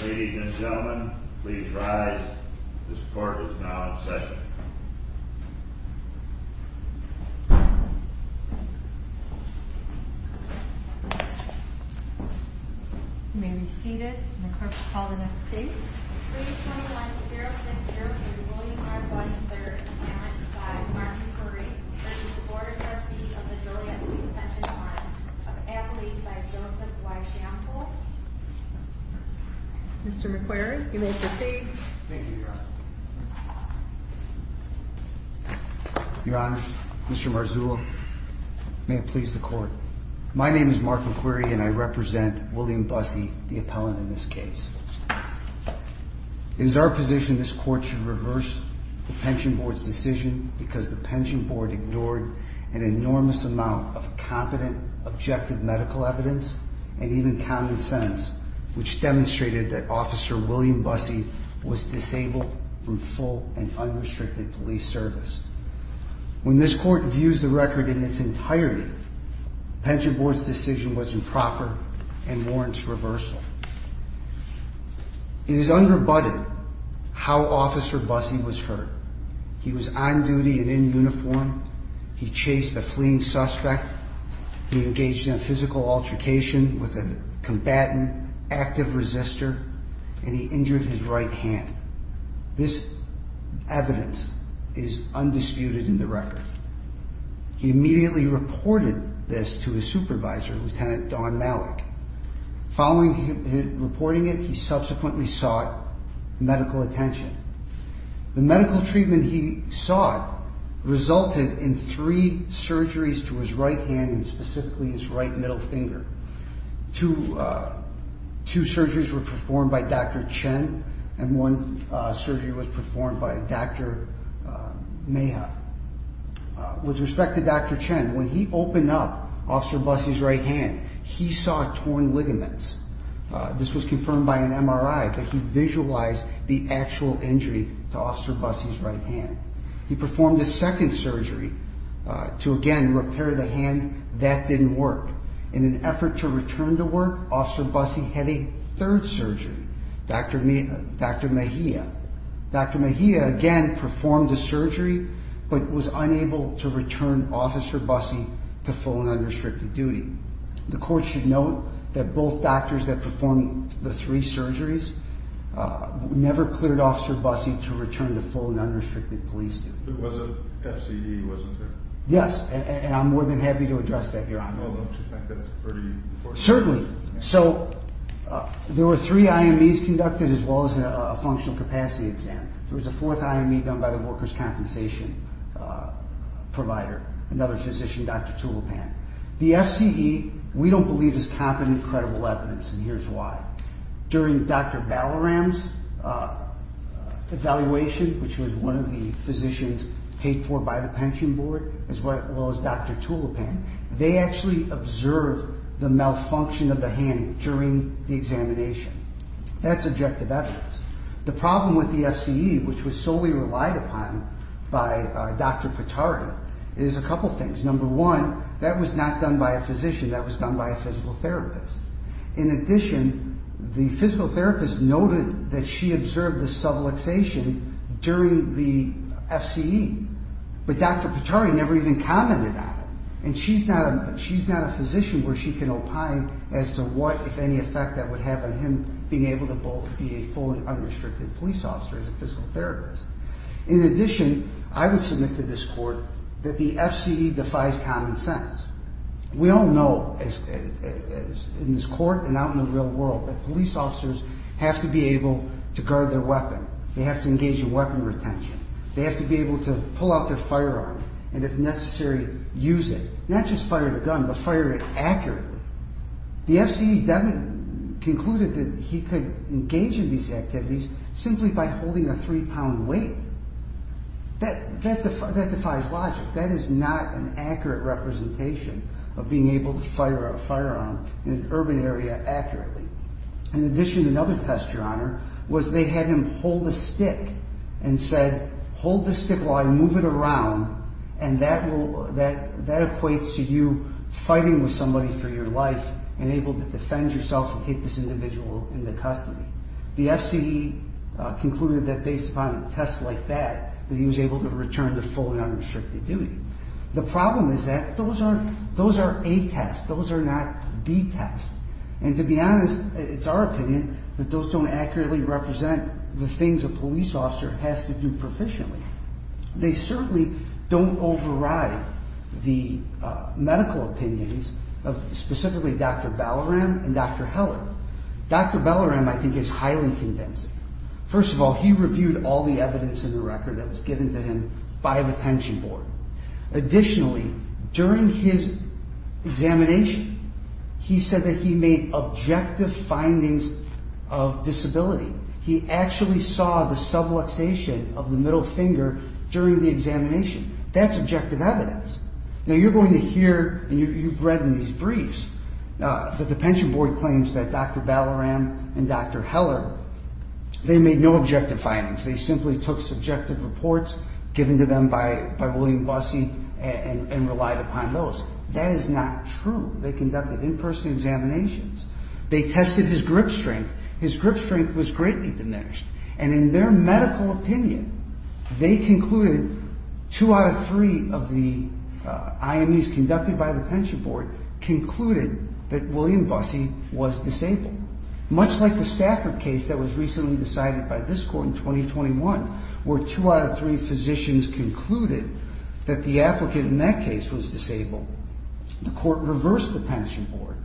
Ladies and gentlemen, please rise. This court is now in session. You may be seated. The clerk will call the next case. 321-0602, William R. Bussey III, appellant by Mark McQuarrie v. The Board of Trustees of the Joliet Police Pension Fund of Appalachia by Joseph Y. Schample Mr. McQuarrie, you may proceed. Thank you, Your Honor. Your Honor, Mr. Marzullo, may it please the Court. My name is Mark McQuarrie and I represent William Bussey, the appellant in this case. It is our position this Court should reverse the Pension Board's decision because the Pension Board ignored an enormous amount of competent, objective medical evidence and even common sense, which demonstrated that Officer William Bussey was disabled from full and unrestricted police service. When this Court views the record in its entirety, the Pension Board's decision was improper and warrants reversal. It is unrebutted how Officer Bussey was hurt. He was on duty and in uniform. He chased a fleeing suspect. He engaged in a physical altercation with a combatant, active resistor, and he injured his right hand. This evidence is undisputed in the record. He immediately reported this to his supervisor, Lt. Don Malik. Following his reporting it, he subsequently sought medical attention. The medical treatment he sought resulted in three surgeries to his right hand and specifically his right middle finger. Two surgeries were performed by Dr. Chen and one surgery was performed by Dr. Meha. With respect to Dr. Chen, when he opened up Officer Bussey's right hand, he saw torn ligaments. This was confirmed by an MRI that he visualized the actual injury to Officer Bussey's right hand. He performed a second surgery to again repair the hand that didn't work. In an effort to return to work, Officer Bussey had a third surgery, Dr. Meha. Dr. Meha again performed a surgery but was unable to return Officer Bussey to full and unrestricted duty. The court should note that both doctors that performed the three surgeries never cleared Officer Bussey to return to full and unrestricted police duty. It was a FCE, wasn't it? Yes, and I'm more than happy to address that, Your Honor. Well, don't you think that's pretty important? Certainly. So there were three IMEs conducted as well as a functional capacity exam. There was a fourth IME done by the workers' compensation provider, another physician, Dr. Tulipan. The FCE, we don't believe, is competent, credible evidence, and here's why. During Dr. Balaram's evaluation, which was one of the physicians paid for by the pension board as well as Dr. Tulipan, they actually observed the malfunction of the hand during the examination. That's objective evidence. The problem with the FCE, which was solely relied upon by Dr. Pittard, is a couple things. Number one, that was not done by a physician. That was done by a physical therapist. In addition, the physical therapist noted that she observed the subluxation during the FCE, but Dr. Pittard never even commented on it, and she's not a physician where she can opine as to what, if any, effect that would have on him being able to both be a full and unrestricted police officer and a physical therapist. In addition, I would submit to this court that the FCE defies common sense. We all know, in this court and out in the real world, that police officers have to be able to guard their weapon. They have to engage in weapon retention. They have to be able to pull out their firearm and, if necessary, use it. Not just fire the gun, but fire it accurately. The FCE definitely concluded that he could engage in these activities simply by holding a three-pound weight. That defies logic. That is not an accurate representation of being able to fire a firearm in an urban area accurately. In addition, another test, Your Honor, was they had him hold a stick and said, hold this stick while I move it around, and that equates to you fighting with somebody for your life and able to defend yourself and keep this individual in the custody. The FCE concluded that, based upon tests like that, that he was able to return to full and unrestricted duty. The problem is that those are A tests. Those are not B tests. And, to be honest, it's our opinion that those don't accurately represent the things a police officer has to do proficiently. They certainly don't override the medical opinions of specifically Dr. Ballaram and Dr. Heller. Dr. Ballaram, I think, is highly convincing. First of all, he reviewed all the evidence in the record that was given to him by the pension board. Additionally, during his examination, he said that he made objective findings of disability. He actually saw the subluxation of the middle finger during the examination. That's objective evidence. Now, you're going to hear, and you've read in these briefs, that the pension board claims that Dr. Ballaram and Dr. Heller, they made no objective findings. They simply took subjective reports given to them by William Bussey and relied upon those. That is not true. They conducted in-person examinations. They tested his grip strength. His grip strength was greatly diminished. And in their medical opinion, they concluded, two out of three of the IMEs conducted by the pension board, concluded that William Bussey was disabled. Much like the Stafford case that was recently decided by this court in 2021, where two out of three physicians concluded that the applicant in that case was disabled, the court reversed the pension board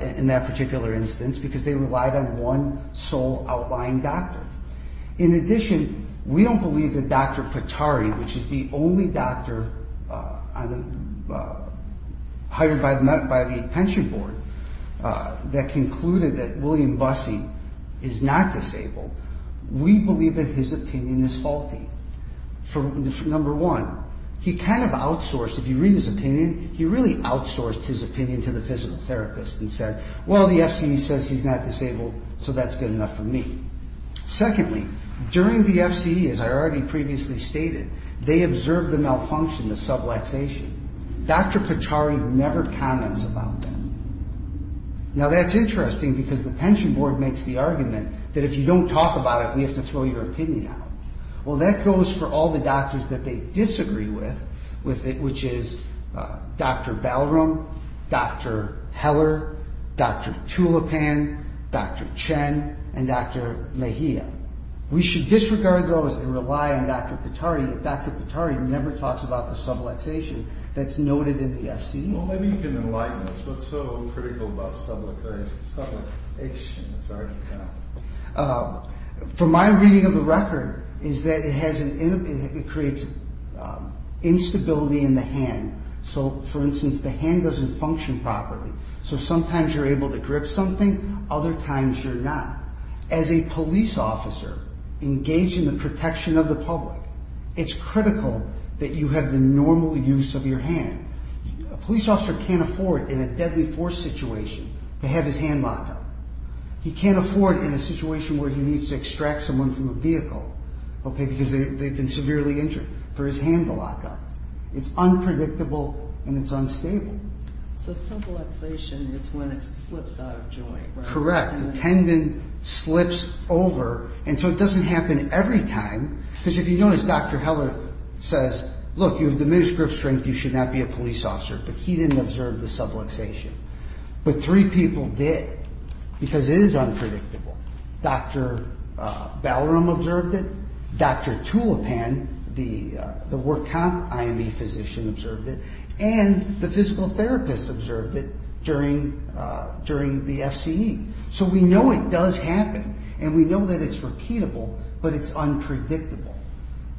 in that particular instance because they relied on one sole outlying doctor. In addition, we don't believe that Dr. Patari, which is the only doctor hired by the pension board, that concluded that William Bussey is not disabled, we believe that his opinion is faulty. For number one, he kind of outsourced, if you read his opinion, he really outsourced his opinion to the physical therapist and said, well, the FCE says he's not disabled, so that's good enough for me. Secondly, during the FCE, as I already previously stated, they observed the malfunction, the subluxation. Dr. Patari never comments about that. Now that's interesting because the pension board makes the argument that if you don't talk about it, we have to throw your opinion out. Well, that goes for all the doctors that they disagree with, which is Dr. Balram, Dr. Heller, Dr. Tulipan, Dr. Chen, and Dr. Mejia. We should disregard those and rely on Dr. Patari. Dr. Patari never talks about the subluxation that's noted in the FCE. Well, maybe you can enlighten us. What's so critical about subluxation? From my reading of the record is that it creates instability in the hand. So, for instance, the hand doesn't function properly. So sometimes you're able to grip something, other times you're not. As a police officer engaged in the protection of the public, it's critical that you have the normal use of your hand. A police officer can't afford in a deadly force situation to have his hand locked up. He can't afford in a situation where he needs to extract someone from a vehicle because they've been severely injured for his hand to lock up. It's unpredictable and it's unstable. So subluxation is when it slips out of joint, right? Correct. The tendon slips over and so it doesn't happen every time. Because if you notice, Dr. Heller says, look, you have diminished grip strength, you should not be a police officer. But he didn't observe the subluxation. But three people did because it is unpredictable. Dr. Ballroom observed it, Dr. Tulipan, the work comp IMV physician observed it, and the physical therapist observed it during the FCE. So we know it does happen and we know that it's repeatable, but it's unpredictable.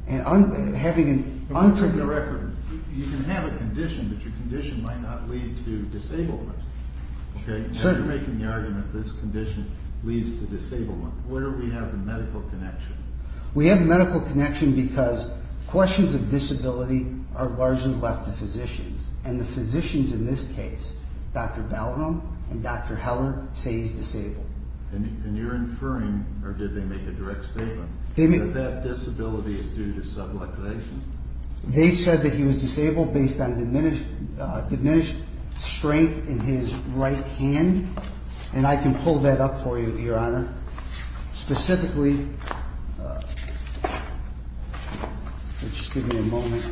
On the record, you can have a condition, but your condition might not lead to disableness. You're making the argument that this condition leads to disableness. Where do we have the medical connection? We have a medical connection because questions of disability are largely left to physicians. And the physicians in this case, Dr. Ballroom and Dr. Heller, say he's disabled. And you're inferring, or did they make a direct statement, that that disability is due to subluxation? They said that he was disabled based on diminished strength in his right hand. And I can pull that up for you, Your Honor. Specifically, just give me a moment.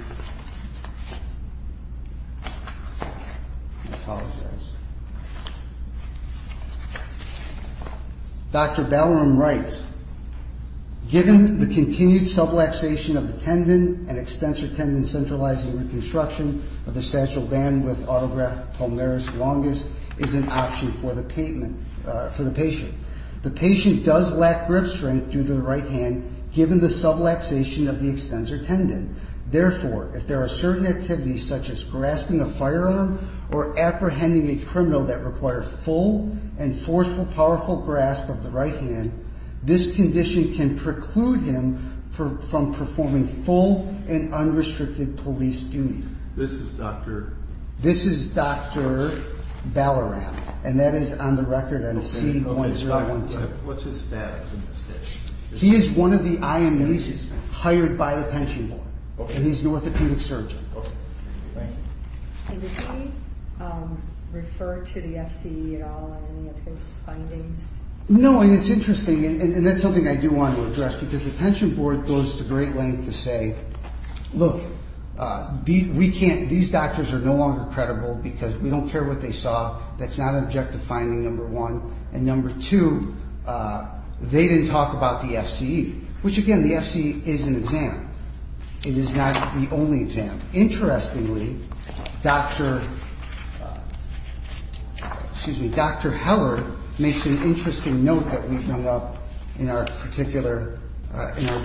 Dr. Ballroom writes, given the continued subluxation of the tendon and extensor tendon centralizing reconstruction of the satchel band with autograft pulmonaris longus is an option for the patient. The patient does lack grip strength due to the right hand, given the subluxation of the extensor tendon. Therefore, if there are certain activities, such as grasping a firearm or apprehending a criminal that requires full and forceful, powerful grasp of the right hand, this condition can preclude him from performing full and unrestricted police duty. This is Dr.? What's his status? He is one of the IMAs hired by the pension board, and he's an orthopedic surgeon. Okay. Thank you. And does he refer to the FCE at all in any of his findings? No, and it's interesting, and that's something I do want to address, because the pension board goes to great lengths to say, look, these doctors are no longer credible because we don't care what they saw. That's not an objective finding, number one. And number two, they didn't talk about the FCE, which, again, the FCE is an exam. It is not the only exam. Interestingly, Dr.? Excuse me. Dr.? Heller makes an interesting note that we've hung up in our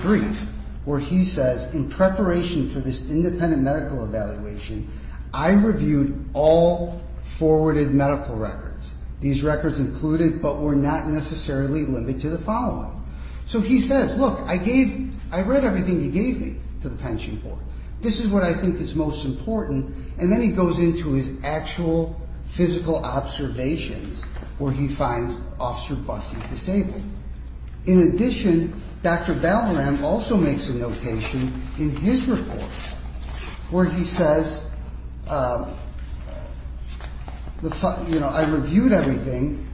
brief, where he says, in preparation for this independent medical evaluation, I reviewed all forwarded medical records. These records included but were not necessarily limited to the following. So he says, look, I read everything you gave me to the pension board. This is what I think is most important. And then he goes into his actual physical observations, where he finds officer Busty disabled. In addition, Dr.? also makes a notation in his report where he says, I reviewed everything.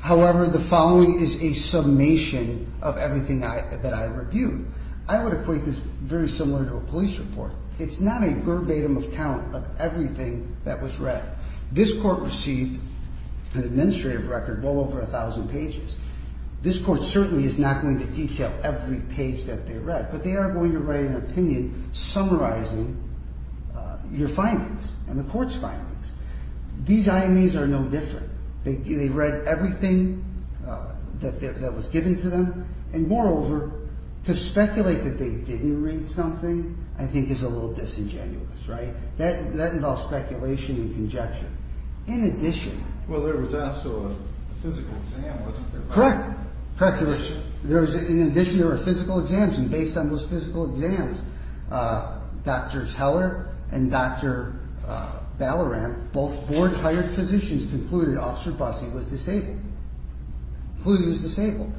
However, the following is a summation of everything that I reviewed. I would equate this very similar to a police report. It's not a verbatim account of everything that was read. This court received an administrative record well over 1,000 pages. This court certainly is not going to detail every page that they read, but they are going to write an opinion summarizing your findings and the court's findings. These IMEs are no different. They read everything that was given to them. And moreover, to speculate that they didn't read something I think is a little disingenuous, right? That involves speculation and conjecture. In addition. Well, there was also a physical exam, wasn't there? Correct. In addition, there were physical exams. And based on those physical exams, Dr.? Heller and Dr.? Ballaram, both board-hired physicians, concluded officer Busty was disabled. Included he was disabled.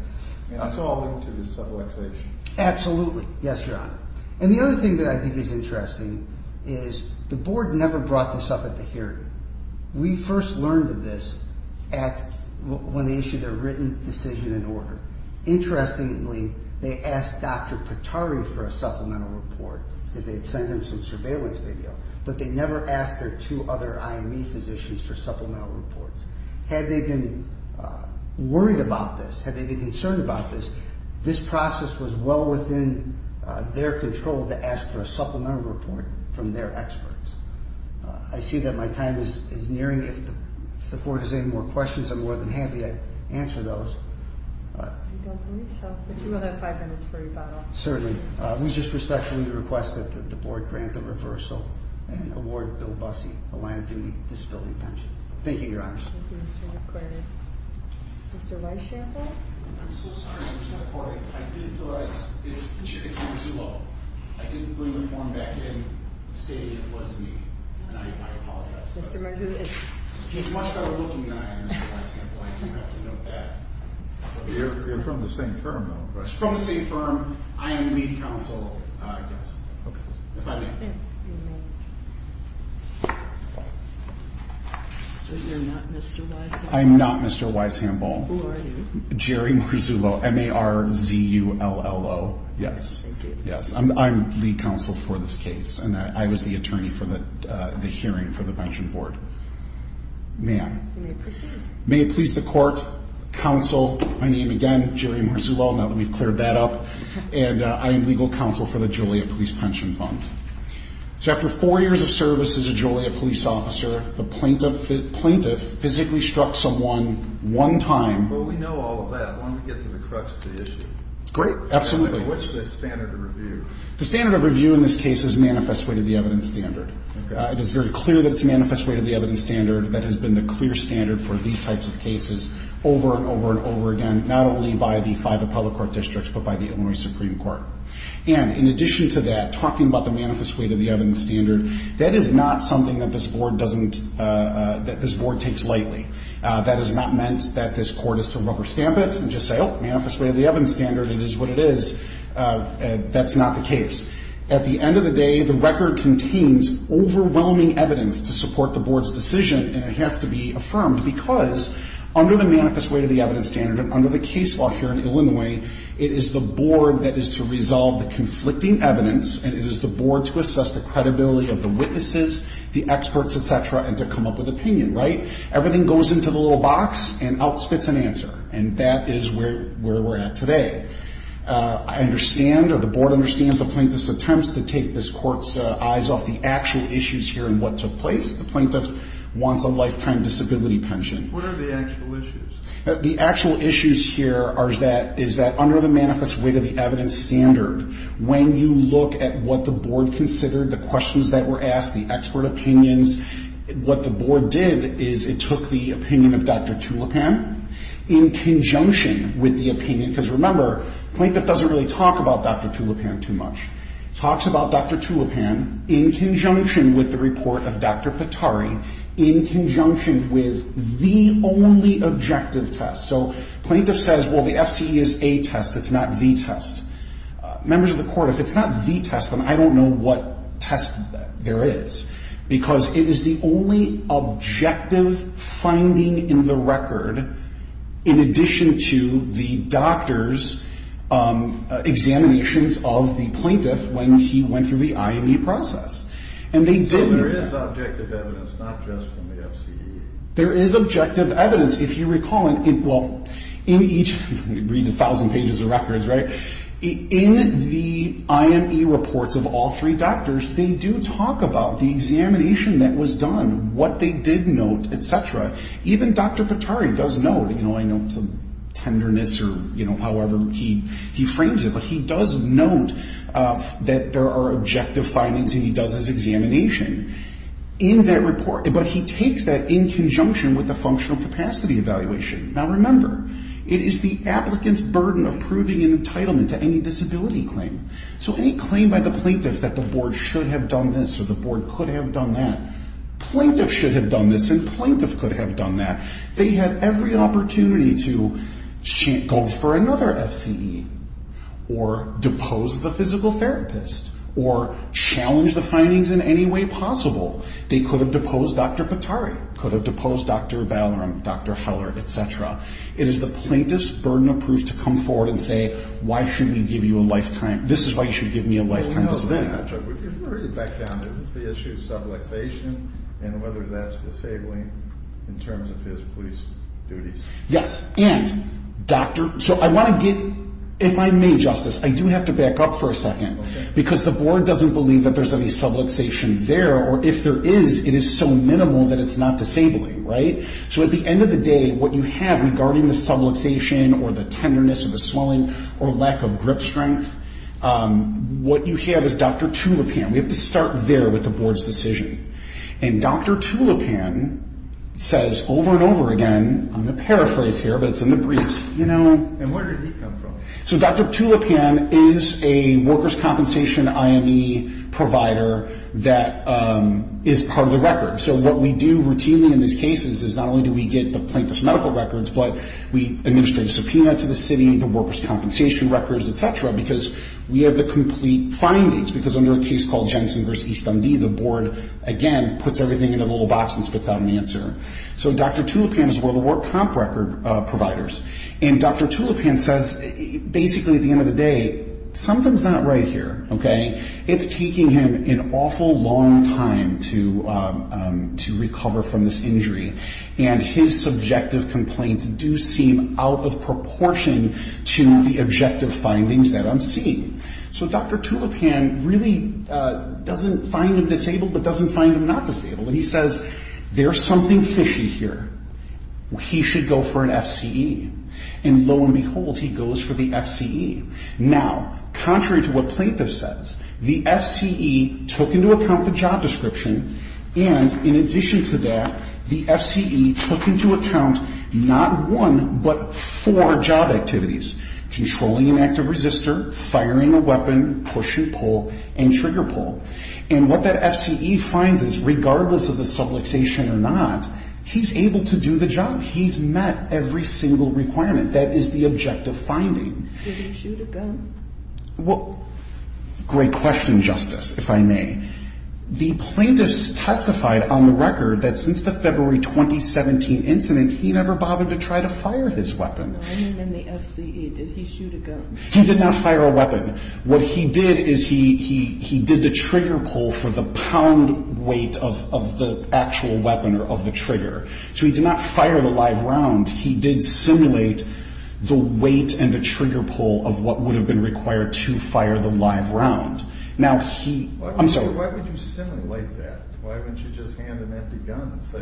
And that's all linked to this subluxation. Absolutely. Yes, Your Honor. And the other thing that I think is interesting is the board never brought this up at the hearing. We first learned of this at when they issued their written decision and order. Interestingly, they asked Dr.? Pittari for a supplemental report because they had sent him some surveillance video. But they never asked their two other IME physicians for supplemental reports. Had they been worried about this, had they been concerned about this, this process was well within their control to ask for a supplemental report from their experts. I see that my time is nearing. If the board has any more questions, I'm more than happy to answer those. I don't believe so. But you will have five minutes for rebuttal. Certainly. It was just respectfully requested that the board grant the reversal and award Bill Busty a land-duty disability pension. Thank you, Your Honor. Thank you, Mr. McClary. Mr. Weishamper? I'm so sorry, Ms. McClary. I did feel that it's too low. I didn't bring the form back in stating it was me, and I apologize. Mr. Marzullo? He's much better looking than I am, Mr. Weishamper, and I do have to note that. You're from the same firm, though. From the same firm. I am lead counsel, I guess, if I may. So you're not Mr. Weishamper? I'm not Mr. Weishamper. Who are you? Jerry Marzullo, M-A-R-Z-U-L-L-O. Yes. Yes, I'm lead counsel for this case, and I was the attorney for the hearing for the pension board. Ma'am? May it please the court, counsel, my name again, Jerry Marzullo, now that we've cleared that up, and I am legal counsel for the Joliet Police Pension Fund. So after four years of service as a Joliet police officer, the plaintiff physically struck someone one time. Well, we know all of that. Why don't we get to the crux of the issue? Great, absolutely. What's the standard of review? The standard of review in this case is manifest weight of the evidence standard. It is very clear that it's manifest weight of the evidence standard. That has been the clear standard for these types of cases over and over and over again, not only by the five appellate court districts but by the Illinois Supreme Court. And in addition to that, talking about the manifest weight of the evidence standard, that is not something that this board doesn't – that this board takes lightly. That has not meant that this court is to rubber stamp it and just say, oh, manifest weight of the evidence standard. It is what it is. That's not the case. At the end of the day, the record contains overwhelming evidence to support the board's decision, and it has to be affirmed because under the manifest weight of the evidence standard and under the case law here in Illinois, it is the board that is to resolve the conflicting evidence, and it is the board to assess the credibility of the witnesses, the experts, et cetera, and to come up with opinion, right? Everything goes into the little box and out spits an answer. And that is where we're at today. I understand or the board understands the plaintiff's attempts to take this court's eyes off the actual issues here and what took place. The plaintiff wants a lifetime disability pension. What are the actual issues? The actual issues here is that under the manifest weight of the evidence standard, when you look at what the board considered, the questions that were asked, the expert opinions, what the board did is it took the opinion of Dr. Tulipan in conjunction with the opinion, because remember, the plaintiff doesn't really talk about Dr. Tulipan too much. He talks about Dr. Tulipan in conjunction with the report of Dr. Pittari, in conjunction with the only objective test. So the plaintiff says, well, the FCE is a test. It's not the test. Members of the court, if it's not the test, then I don't know what test there is because it is the only objective finding in the record, in addition to the doctor's examinations of the plaintiff when he went through the IME process. So there is objective evidence, not just from the FCE? There is objective evidence, if you recall. Well, in each, read 1,000 pages of records, right? In the IME reports of all three doctors, they do talk about the examination that was done, what they did note, et cetera. Even Dr. Pittari does note. I know it's a tenderness or however he frames it, but he does note that there are objective findings and he does his examination in that report, but he takes that in conjunction with the functional capacity evaluation. Now, remember, it is the applicant's burden of proving an entitlement to any disability claim. So any claim by the plaintiff that the board should have done this or the board could have done that, plaintiff should have done this and plaintiff could have done that. They had every opportunity to go for another FCE or depose the physical therapist or challenge the findings in any way possible. They could have deposed Dr. Pittari, could have deposed Dr. Valorum, Dr. Heller, et cetera. It is the plaintiff's burden of proof to come forward and say, this is why you should give me a lifetime disability contract. If we were to back down, is it the issue of subluxation and whether that's disabling in terms of his police duties? Yes. If I may, Justice, I do have to back up for a second because the board doesn't believe that there's any subluxation there or if there is, it is so minimal that it's not disabling, right? So at the end of the day, what you have regarding the subluxation or the tenderness or the swelling or lack of grip strength, what you have is Dr. Tulipan. We have to start there with the board's decision. And Dr. Tulipan says over and over again, I'm going to paraphrase here, but it's in the briefs. And where did he come from? So Dr. Tulipan is a workers' compensation IME provider that is part of the record. So what we do routinely in these cases is not only do we get the plaintiff's medical records, but we administrate a subpoena to the city, the workers' compensation records, et cetera, because we have the complete findings. Because under a case called Jensen v. East MD, the board, again, puts everything in a little box and spits out an answer. So Dr. Tulipan is one of the work comp record providers. And Dr. Tulipan says basically at the end of the day, something's not right here, okay? It's taking him an awful long time to recover from this injury. And his subjective complaints do seem out of proportion to the objective findings that I'm seeing. So Dr. Tulipan really doesn't find him disabled but doesn't find him not disabled. And he says there's something fishy here. He should go for an FCE. And lo and behold, he goes for the FCE. Now, contrary to what plaintiff says, the FCE took into account the job description, and in addition to that, the FCE took into account not one but four job activities, controlling an active resistor, firing a weapon, push and pull, and trigger pull. And what that FCE finds is regardless of the subluxation or not, he's able to do the job. He's met every single requirement. That is the objective finding. Did he shoot a gun? Well, great question, Justice, if I may. The plaintiffs testified on the record that since the February 2017 incident, he never bothered to try to fire his weapon. I mean in the FCE. Did he shoot a gun? He did not fire a weapon. What he did is he did the trigger pull for the pound weight of the actual weapon or of the trigger. So he did not fire the live round. He did simulate the weight and the trigger pull of what would have been required to fire the live round. Why would you simulate that? Why wouldn't you just hand an empty gun and say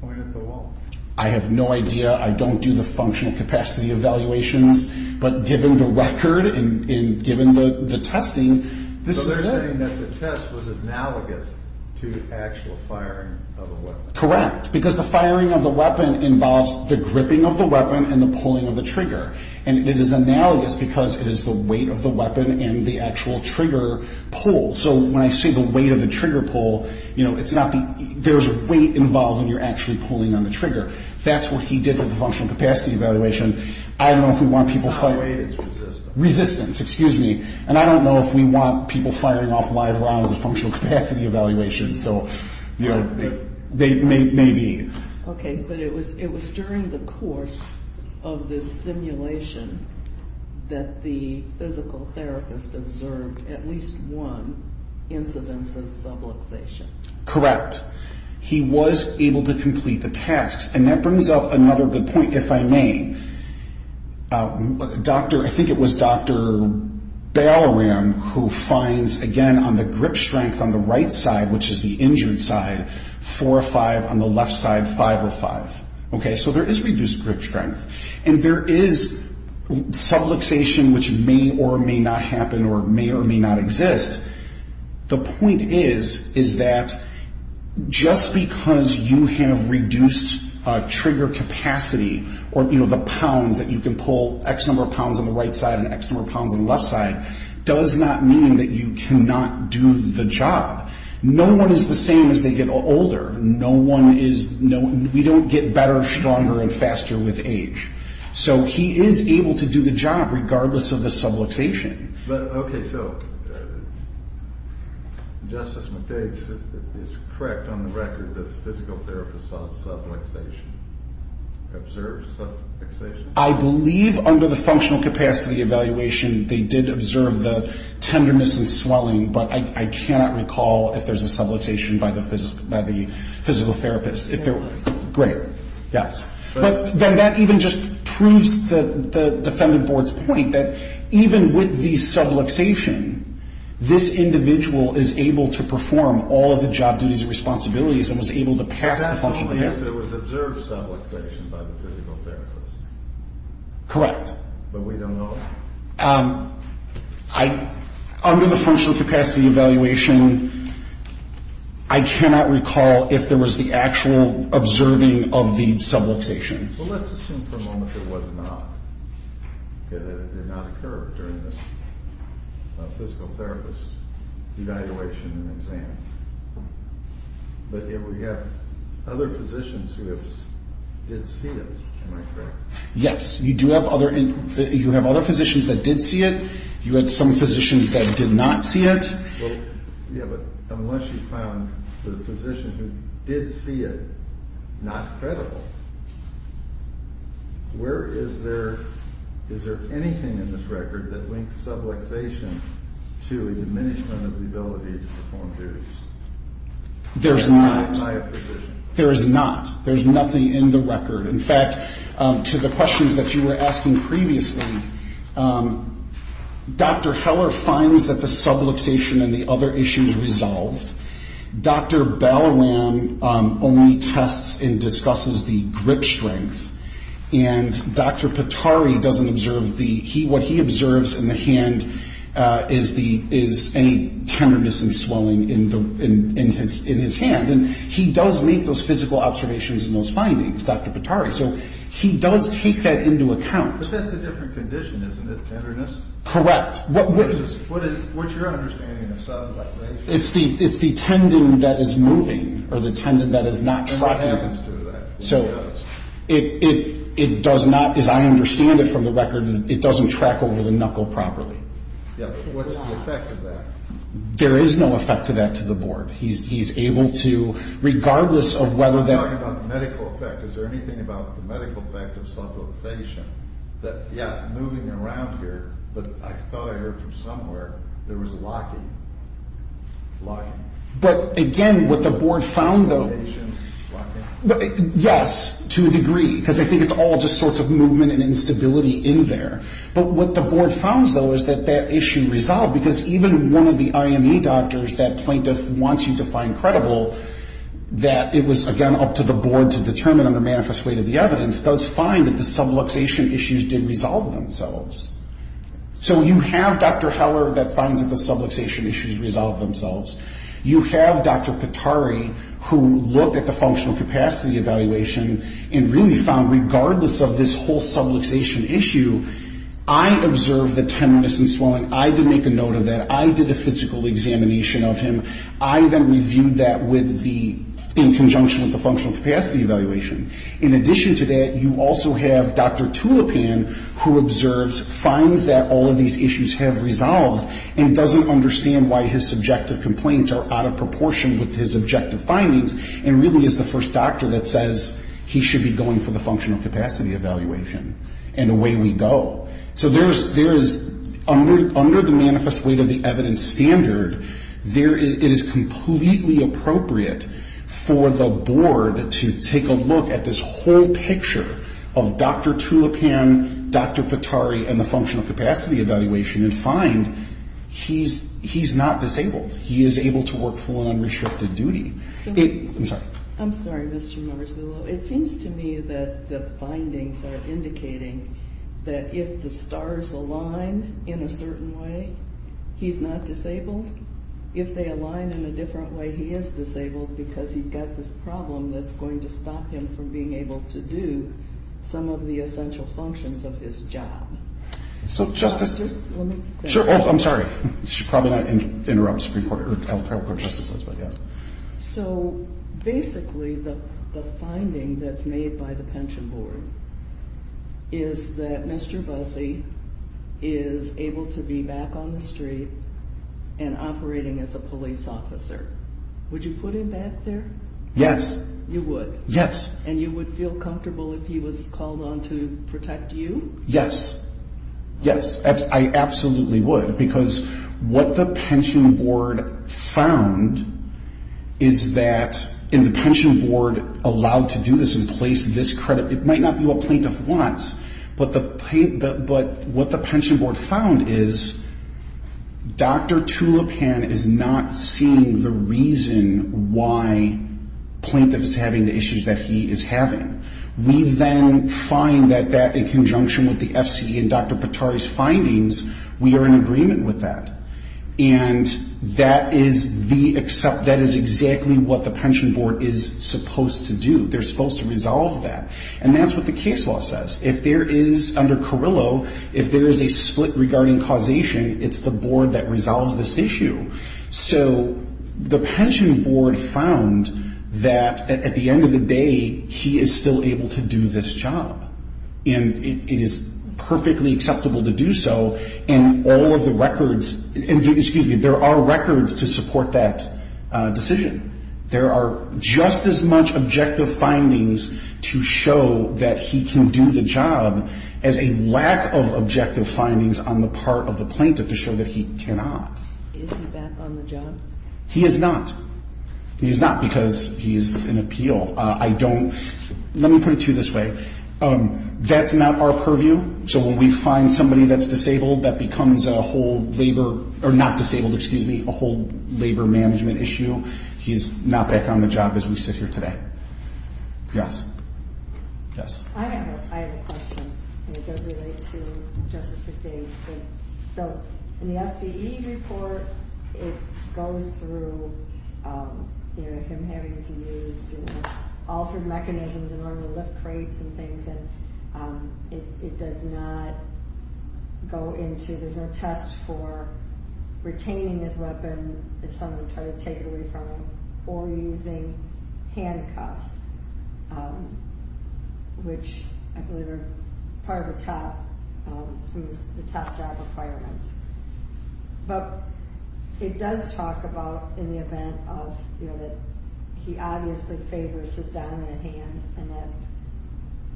point at the wall? I have no idea. I don't do the functional capacity evaluations. But given the record and given the testing, this is it. So they're saying that the test was analogous to actual firing of a weapon. Correct, because the firing of the weapon involves the gripping of the weapon and the pulling of the trigger. And it is analogous because it is the weight of the weapon and the actual trigger pull. So when I say the weight of the trigger pull, you know, it's not the – there's weight involved when you're actually pulling on the trigger. That's what he did with the functional capacity evaluation. I don't know if we want people firing – The weight is resistance. Resistance, excuse me. And I don't know if we want people firing off live rounds in functional capacity evaluations. So, you know, they may be. Okay, but it was during the course of this simulation that the physical therapist observed at least one incidence of subluxation. Correct. He was able to complete the tasks. And that brings up another good point, if I may. Doctor – I think it was Dr. Ballaram who finds, again, on the grip strength on the right side, which is the injured side, four or five, on the left side, five or five. Okay, so there is reduced grip strength. And there is subluxation which may or may not happen or may or may not exist. The point is, is that just because you have reduced trigger capacity or, you know, the pounds that you can pull, X number of pounds on the right side and X number of pounds on the left side, does not mean that you cannot do the job. No one is the same as they get older. No one is – we don't get better, stronger, and faster with age. So he is able to do the job regardless of the subluxation. Okay, so Justice McDade is correct on the record that the physical therapist saw subluxation, observed subluxation. I believe under the functional capacity evaluation they did observe the tenderness and swelling, but I cannot recall if there is a subluxation by the physical therapist. Great, yes. But then that even just proves the defendant board's point that even with the subluxation, this individual is able to perform all of the job duties and responsibilities and was able to pass the functional – But that's only if there was observed subluxation by the physical therapist. Correct. But we don't know. Under the functional capacity evaluation, I cannot recall if there was the actual observing of the subluxation. Well, let's assume for a moment that it was not, that it did not occur during this physical therapist evaluation and exam. But if we have other physicians who did see it, am I correct? Yes, you do have other – you have other physicians that did see it. You had some physicians that did not see it. Well, yeah, but unless you found the physician who did see it not credible, where is there – is there anything in this record that links subluxation to a diminishment of the ability to perform duties? There is not. And I am not a physician. There is not. There is nothing in the record. In fact, to the questions that you were asking previously, Dr. Heller finds that the subluxation and the other issues resolved. Dr. Bellram only tests and discusses the grip strength. And Dr. Patari doesn't observe the – what he observes in the hand is the – is any tenderness and swelling in his hand. And he does make those physical observations and those findings. Dr. Patari. So he does take that into account. But that's a different condition, isn't it, tenderness? Correct. What's your understanding of subluxation? It's the – it's the tendon that is moving or the tendon that is not tracking. And what happens to that? So it does not, as I understand it from the record, it doesn't track over the knuckle properly. Yeah, but what's the effect of that? There is no effect of that to the board. He's able to, regardless of whether that – Is there anything about the medical effect of subluxation that, yeah, moving around here, but I thought I heard from somewhere there was locking, locking. But, again, what the board found, though – Subluxation, locking. Yes, to a degree, because I think it's all just sorts of movement and instability in there. But what the board found, though, is that that issue resolved because even one of the IME doctors, that plaintiff wants you to find credible, that it was, again, up to the board to determine under manifest weight of the evidence, does find that the subluxation issues did resolve themselves. So you have Dr. Heller that finds that the subluxation issues resolved themselves. You have Dr. Katari who looked at the functional capacity evaluation and really found regardless of this whole subluxation issue, I observed the tenderness and swelling. I did make a note of that. I did a physical examination of him. I then reviewed that with the – in conjunction with the functional capacity evaluation. In addition to that, you also have Dr. Tulipan who observes, finds that all of these issues have resolved and doesn't understand why his subjective complaints are out of proportion with his objective findings and really is the first doctor that says he should be going for the functional capacity evaluation. And away we go. So there is – under the manifest weight of the evidence standard, it is completely appropriate for the board to take a look at this whole picture of Dr. Tulipan, Dr. Katari, and the functional capacity evaluation and find he's not disabled. He is able to work full and unrestricted duty. I'm sorry. I'm sorry, Mr. Marzullo. It seems to me that the findings are indicating that if the stars align in a certain way, he's not disabled. If they align in a different way, he is disabled because he's got this problem that's going to stop him from being able to do some of the essential functions of his job. So Justice – Just let me – Sure. I'm sorry. I should probably not interrupt Supreme Court or trial court justices, but yes. So basically the finding that's made by the pension board is that Mr. Busse is able to be back on the street and operating as a police officer. Would you put him back there? Yes. You would? Yes. And you would feel comfortable if he was called on to protect you? Yes. Yes. I absolutely would because what the pension board found is that – and the pension board allowed to do this and place this credit. It might not be what plaintiff wants, but what the pension board found is Dr. Tulipan is not seeing the reason why plaintiff is having the issues that he is having. We then find that in conjunction with the F.C.E. and Dr. Patari's findings, we are in agreement with that. And that is the – that is exactly what the pension board is supposed to do. They're supposed to resolve that. And that's what the case law says. If there is – under Carrillo, if there is a split regarding causation, it's the board that resolves this issue. So the pension board found that at the end of the day, he is still able to do this job. And it is perfectly acceptable to do so. And all of the records – excuse me, there are records to support that decision. There are just as much objective findings to show that he can do the job as a lack of objective findings on the part of the plaintiff to show that he cannot. Is he back on the job? He is not. He is not because he is in appeal. I don't – let me put it to you this way. That's not our purview. So when we find somebody that's disabled, that becomes a whole labor – or not disabled, excuse me, a whole labor management issue. He is not back on the job as we sit here today. Yes. Yes. I have a question, and it does relate to Justice McDade. So in the SCE report, it goes through him having to use altered mechanisms in order to lift crates and things. And it does not go into – there's no test for retaining his weapon if someone tried to take it away from him or using handcuffs, which I believe are part of the top – some of the top job requirements. But it does talk about in the event of, you know, that he obviously favors his dominant hand, and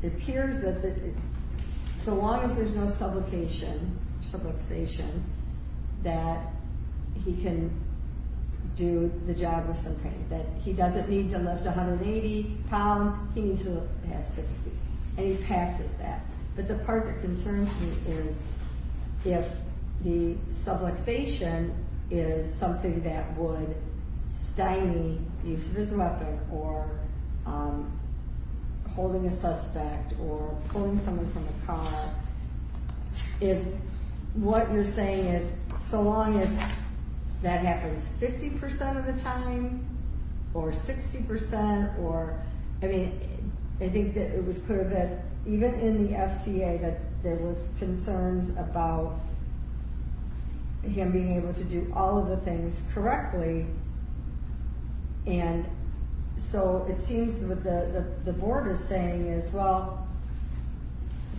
it appears that so long as there's no sublocation, subluxation, that he can do the job of some kind, that he doesn't need to lift 180 pounds. He needs to have 60, and he passes that. But the part that concerns me is if the subluxation is something that would stymie the use of his weapon or holding a suspect or pulling someone from a car, is what you're saying is so long as that happens 50% of the time or 60% or – the FCA, that there was concerns about him being able to do all of the things correctly. And so it seems that what the board is saying is, well,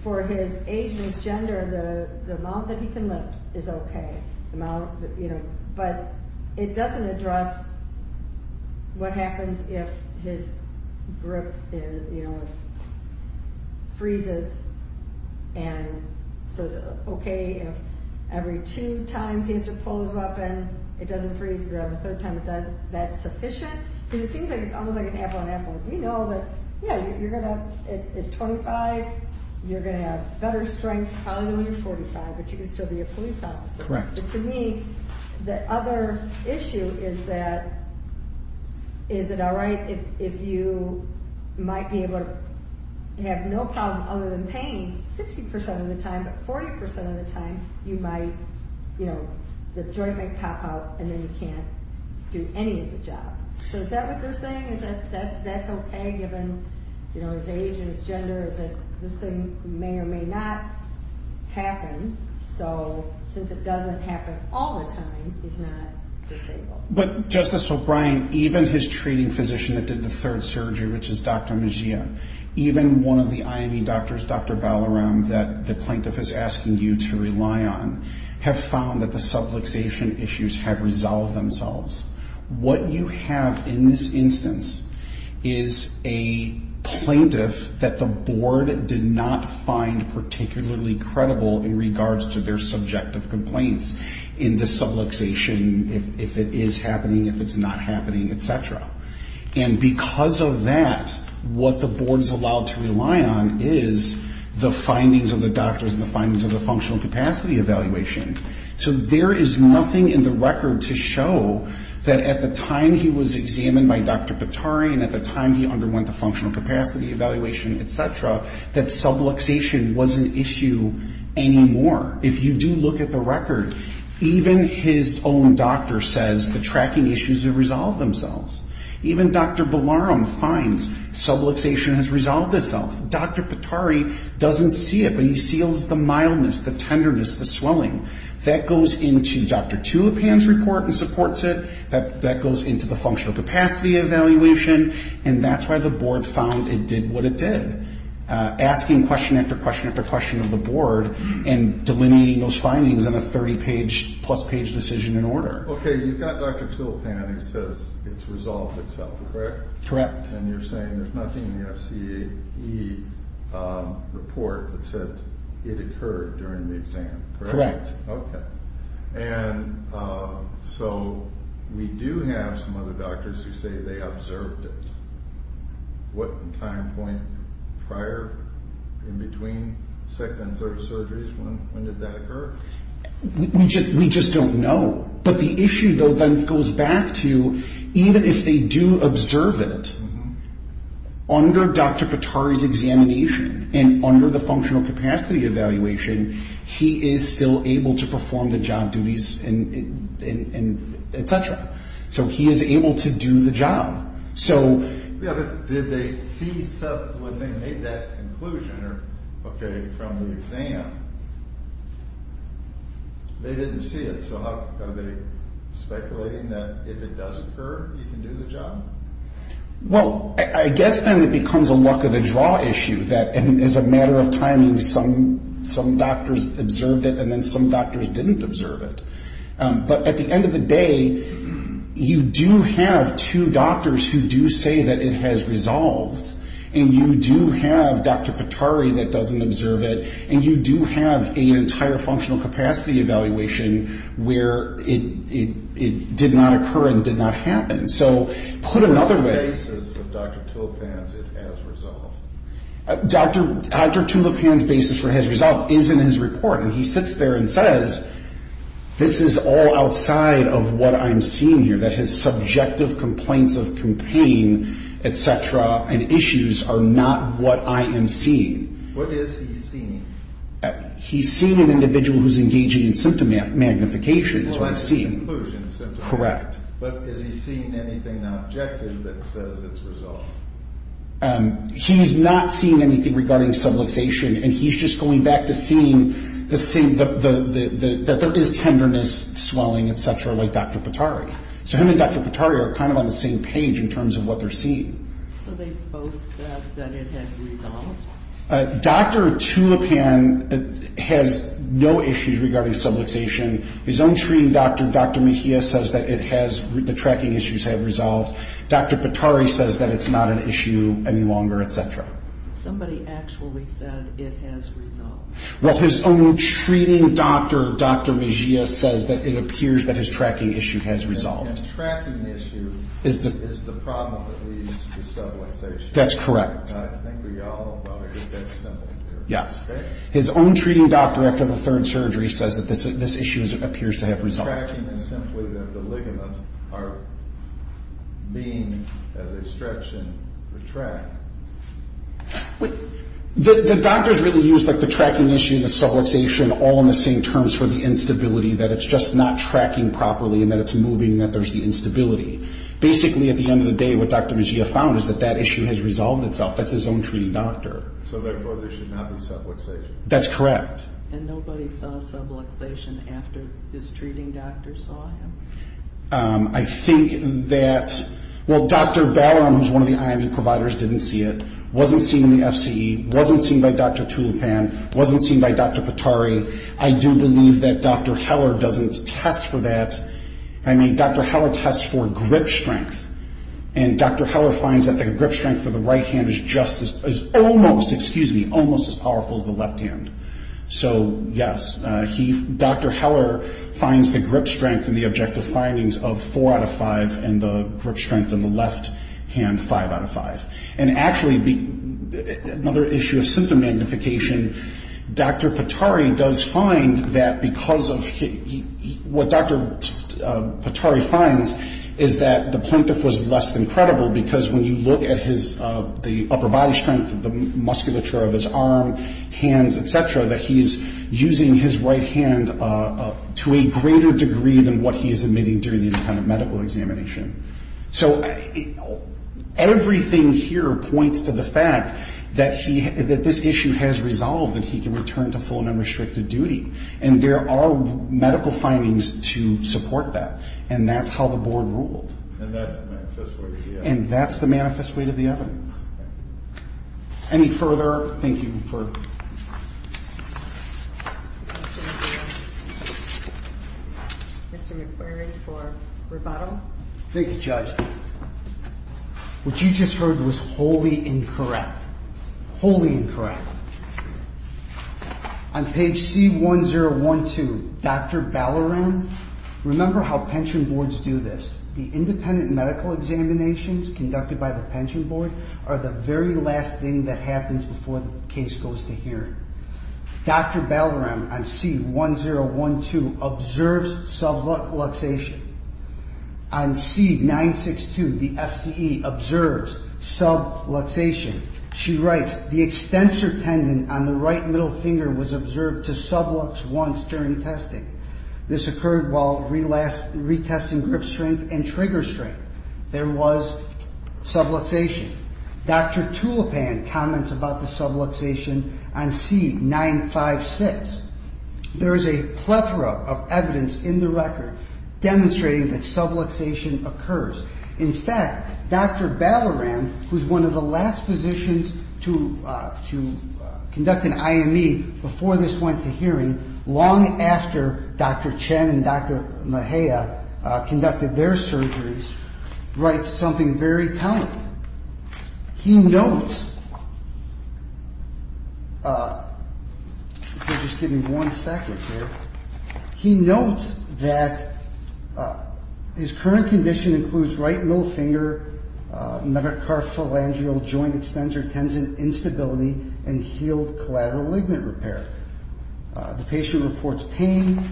for his age and his gender, the amount that he can lift is okay. But it doesn't address what happens if his grip freezes, and so it's okay if every two times he has to pull his weapon, it doesn't freeze again. The third time it doesn't, that's sufficient? Because it seems like it's almost like an apple and apple. We know that, yeah, you're going to – at 25, you're going to have better strength, probably when you're 45, but you can still be a police officer. Correct. But to me, the other issue is that, is it all right if you might be able to have no problem other than pain 60% of the time, but 40% of the time, you might, you know, the joint might pop out, and then you can't do any of the job. So is that what you're saying? That's okay given, you know, his age and his gender, is that this thing may or may not happen, so since it doesn't happen all the time, he's not disabled. But, Justice O'Brien, even his treating physician that did the third surgery, which is Dr. Mejia, even one of the IME doctors, Dr. Ballaram, that the plaintiff is asking you to rely on, have found that the subluxation issues have resolved themselves. What you have in this instance is a plaintiff that the board did not find particularly credible in regards to their subjective complaints in the subluxation, if it is happening, if it's not happening, etc. And because of that, what the board is allowed to rely on is the findings of the doctors and the findings of the functional capacity evaluation. So there is nothing in the record to show that at the time he was examined by Dr. Pittari and at the time he underwent the functional capacity evaluation, etc., that subluxation was an issue anymore. If you do look at the record, even his own doctor says the tracking issues have resolved themselves. Even Dr. Ballaram finds subluxation has resolved itself. Dr. Pittari doesn't see it, but he feels the mildness, the tenderness, the swelling. That goes into Dr. Tulipan's report and supports it. That goes into the functional capacity evaluation. And that's why the board found it did what it did, asking question after question after question of the board and delineating those findings in a 30-plus page decision and order. Okay, you've got Dr. Tulipan who says it's resolved itself, correct? Correct. And you're saying there's nothing in the FCE report that said it occurred during the exam, correct? Correct. Okay. And so we do have some other doctors who say they observed it. What time point prior, in between second and third surgeries, when did that occur? We just don't know. But the issue, though, then goes back to even if they do observe it, under Dr. Pittari's examination and under the functional capacity evaluation, he is still able to perform the job duties, et cetera. So he is able to do the job. Yeah, but did they see when they made that conclusion or, okay, from the exam, they didn't see it. So are they speculating that if it does occur, he can do the job? Well, I guess then it becomes a luck of the draw issue that as a matter of timing, some doctors observed it and then some doctors didn't observe it. But at the end of the day, you do have two doctors who do say that it has resolved, and you do have Dr. Pittari that doesn't observe it, and you do have an entire functional capacity evaluation where it did not occur and did not happen. So put another way. What is the basis of Dr. Tulipan's it has resolved? Dr. Tulipan's basis for it has resolved is in his report, and he sits there and says this is all outside of what I'm seeing here, that his subjective complaints of pain, et cetera, and issues are not what I am seeing. What is he seeing? He's seeing an individual who's engaging in symptom magnification is what he's seeing. Well, that's the conclusion. Correct. But is he seeing anything objective that says it's resolved? He's not seeing anything regarding subluxation, and he's just going back to seeing that there is tenderness, swelling, et cetera, like Dr. Pittari. So him and Dr. Pittari are kind of on the same page in terms of what they're seeing. So they both said that it has resolved? Dr. Tulipan has no issues regarding subluxation. His own treating doctor, Dr. Mejia, says that it has, the tracking issues have resolved. Dr. Pittari says that it's not an issue any longer, et cetera. Somebody actually said it has resolved. Well, his own treating doctor, Dr. Mejia, says that it appears that his tracking issue has resolved. His tracking issue is the problem that leads to subluxation. That's correct. I think we all want to get that simple. Yes. His own treating doctor, after the third surgery, says that this issue appears to have resolved. His tracking is simply that the ligaments are being, as they stretch and retract. The doctors really use the tracking issue and the subluxation all in the same terms for the instability, that it's just not tracking properly and that it's moving and that there's the instability. Basically, at the end of the day, what Dr. Mejia found is that that issue has resolved itself. That's his own treating doctor. So therefore, there should not be subluxation. That's correct. And nobody saw subluxation after his treating doctor saw him? I think that, well, Dr. Balleron, who's one of the IME providers, didn't see it. Wasn't seen in the FCE. Wasn't seen by Dr. Tulipan. Wasn't seen by Dr. Patari. I do believe that Dr. Heller doesn't test for that. I mean, Dr. Heller tests for grip strength, and Dr. Heller finds that the grip strength of the right hand is almost as powerful as the left hand. So, yes, Dr. Heller finds the grip strength in the objective findings of 4 out of 5 and the grip strength in the left hand 5 out of 5. And actually, another issue of symptom magnification, Dr. Patari does find that because of what Dr. Patari finds is that the plaintiff was less than credible because when you look at his upper body strength, the musculature of his arm, hands, et cetera, that he's using his right hand to a greater degree than what he is admitting during the independent medical examination. So everything here points to the fact that this issue has resolved and he can return to full and unrestricted duty. And there are medical findings to support that. And that's how the board ruled. And that's the manifest way to the evidence. And that's the manifest way to the evidence. Thank you. Any further? Thank you. Mr. McQuarrie for rebuttal. Thank you, Judge. What you just heard was wholly incorrect. Wholly incorrect. On page C1012, Dr. Ballaram, remember how pension boards do this. The independent medical examinations conducted by the pension board are the very last thing that happens before the case goes to hearing. Dr. Ballaram on C1012 observes subluxation. On C962, the FCE observes subluxation. She writes, the extensor tendon on the right middle finger was observed to sublux once during testing. This occurred while retesting grip strength and trigger strength. There was subluxation. Dr. Tulipan comments about the subluxation on C956. There is a plethora of evidence in the record demonstrating that subluxation occurs. In fact, Dr. Ballaram, who is one of the last physicians to conduct an IME before this went to hearing, long after Dr. Chen and Dr. Mejia conducted their surgeries, writes something very telling. He notes, if you'll just give me one second here, he notes that his current condition includes right middle finger metacarphalangeal joint extensor tendon instability and healed collateral ligament repair. The patient reports pain.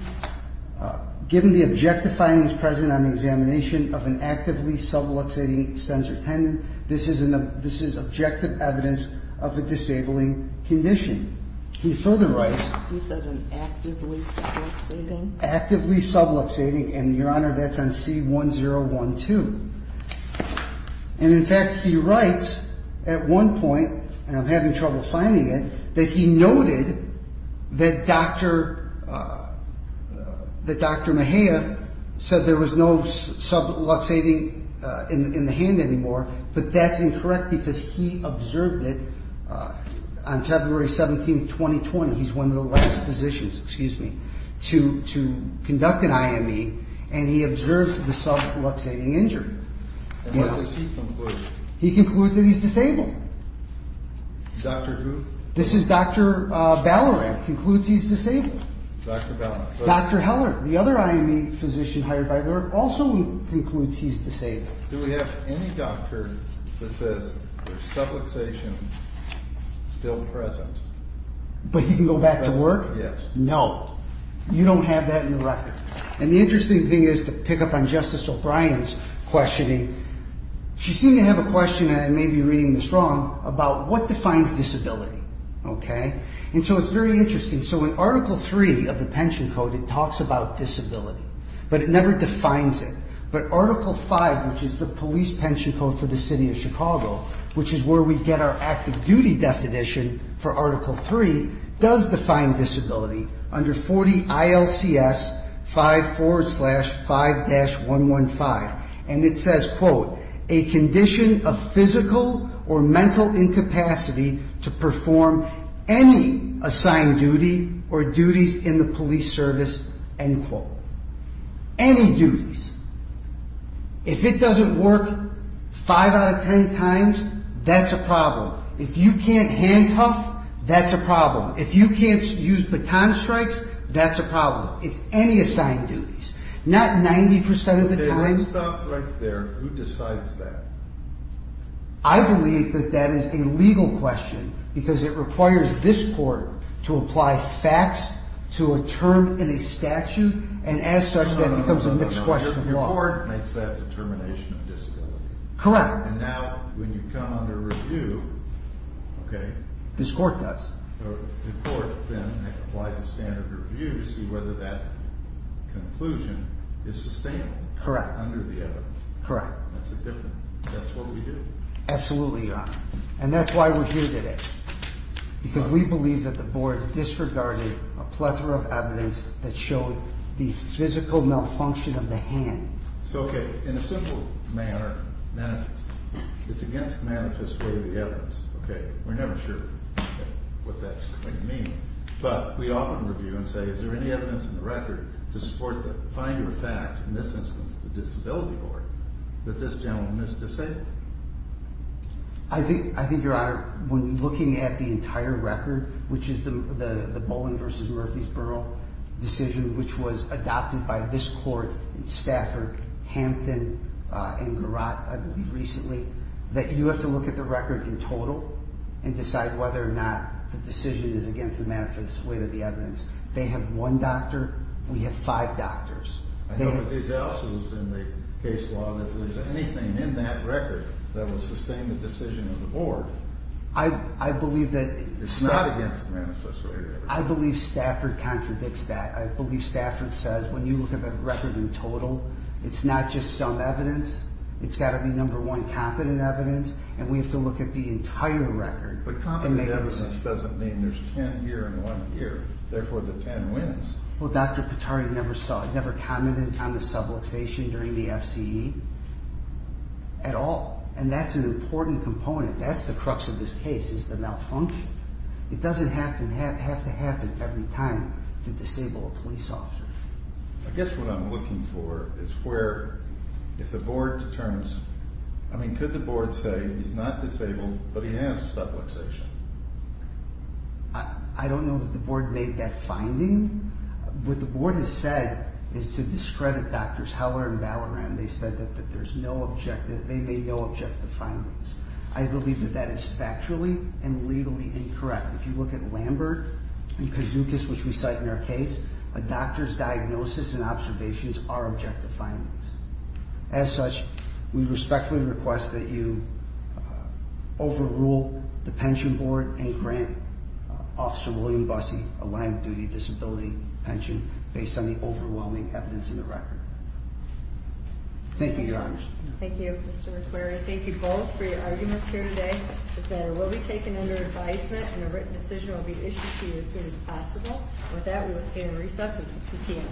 Given the objective findings present on the examination of an actively subluxating extensor tendon, this is objective evidence of a disabling condition. He further writes... He said an actively subluxating? Actively subluxating, and, Your Honor, that's on C1012. And, in fact, he writes at one point, and I'm having trouble finding it, that he noted that Dr. Mejia said there was no subluxating in the hand anymore, but that's incorrect because he observed it on February 17, 2020. He's one of the last physicians, excuse me, to conduct an IME, and he observes the subluxating injury. And what does he conclude? He concludes that he's disabled. Dr. who? This is Dr. Ballarat, concludes he's disabled. Dr. Ballarat. Dr. Heller, the other IME physician hired by Lurk, also concludes he's disabled. Do we have any doctor that says there's subluxation still present? Yes. But he can go back to work? Yes. No. You don't have that in the record. And the interesting thing is, to pick up on Justice O'Brien's questioning, she seemed to have a question, and I may be reading this wrong, about what defines disability, okay? And so it's very interesting. So in Article III of the Pension Code, it talks about disability, But Article V, which is the police pension code for the city of Chicago, which is where we get our active duty definition for Article III, does define disability under 40 ILCS 5 forward slash 5-115. And it says, Any duties. Any duties in the police service, end quote. Any duties. If it doesn't work 5 out of 10 times, that's a problem. If you can't handcuff, that's a problem. If you can't use baton strikes, that's a problem. It's any assigned duties. Not 90% of the time. Okay, let's stop right there. Who decides that? I believe that that is a legal question, because it requires this court to apply facts to a term in a statute, and as such, that becomes a mixed question of law. Correct. This court does. Correct. Correct. Absolutely, Your Honor. And that's why we're here today. Because we believe that the board disregarded a plethora of evidence that showed the physical malfunction of the hand. So, okay, in a simple manner, manifest. It's against the manifest way of the evidence, okay? We're never sure what that's going to mean. But we often review and say, is there any evidence in the record to support the finder fact, in this instance, the Disability Board, that this gentleman is disabled? I think, Your Honor, when looking at the entire record, which is the Bowling v. Murphysboro decision, which was adopted by this court in Stafford, Hampton, and Garrotte, I believe recently, that you have to look at the record in total and decide whether or not the decision is against the manifest way of the evidence. They have one doctor. We have five doctors. I know that these are also in the case law. If there's anything in that record that will sustain the decision of the board, it's not against the manifest way of the evidence. I believe Stafford contradicts that. I believe Stafford says, when you look at the record in total, it's not just some evidence. It's got to be, number one, competent evidence. And we have to look at the entire record. But competent evidence doesn't mean there's ten here and one here. Therefore, the ten wins. Well, Dr. Pittari never saw it, never commented on the subluxation during the FCE at all. And that's an important component. That's the crux of this case is the malfunction. It doesn't have to happen every time to disable a police officer. I guess what I'm looking for is where, if the board determines, I mean, could the board say he's not disabled but he has subluxation? I don't know if the board made that finding. What the board has said is to discredit Drs. Heller and Ballaram. They said that there's no objective. They made no objective findings. I believe that that is factually and legally incorrect. If you look at Lambert and Kazookas, which we cite in our case, a doctor's diagnosis and observations are objective findings. As such, we respectfully request that you overrule the pension board and grant Officer William Bussey a line-of-duty disability pension based on the overwhelming evidence in the record. Thank you, Your Honors. Thank you, Mr. McQuarrie. Thank you both for your arguments here today. This matter will be taken under advisement and a written decision will be issued to you as soon as possible. With that, we will stay in recess until 2 p.m.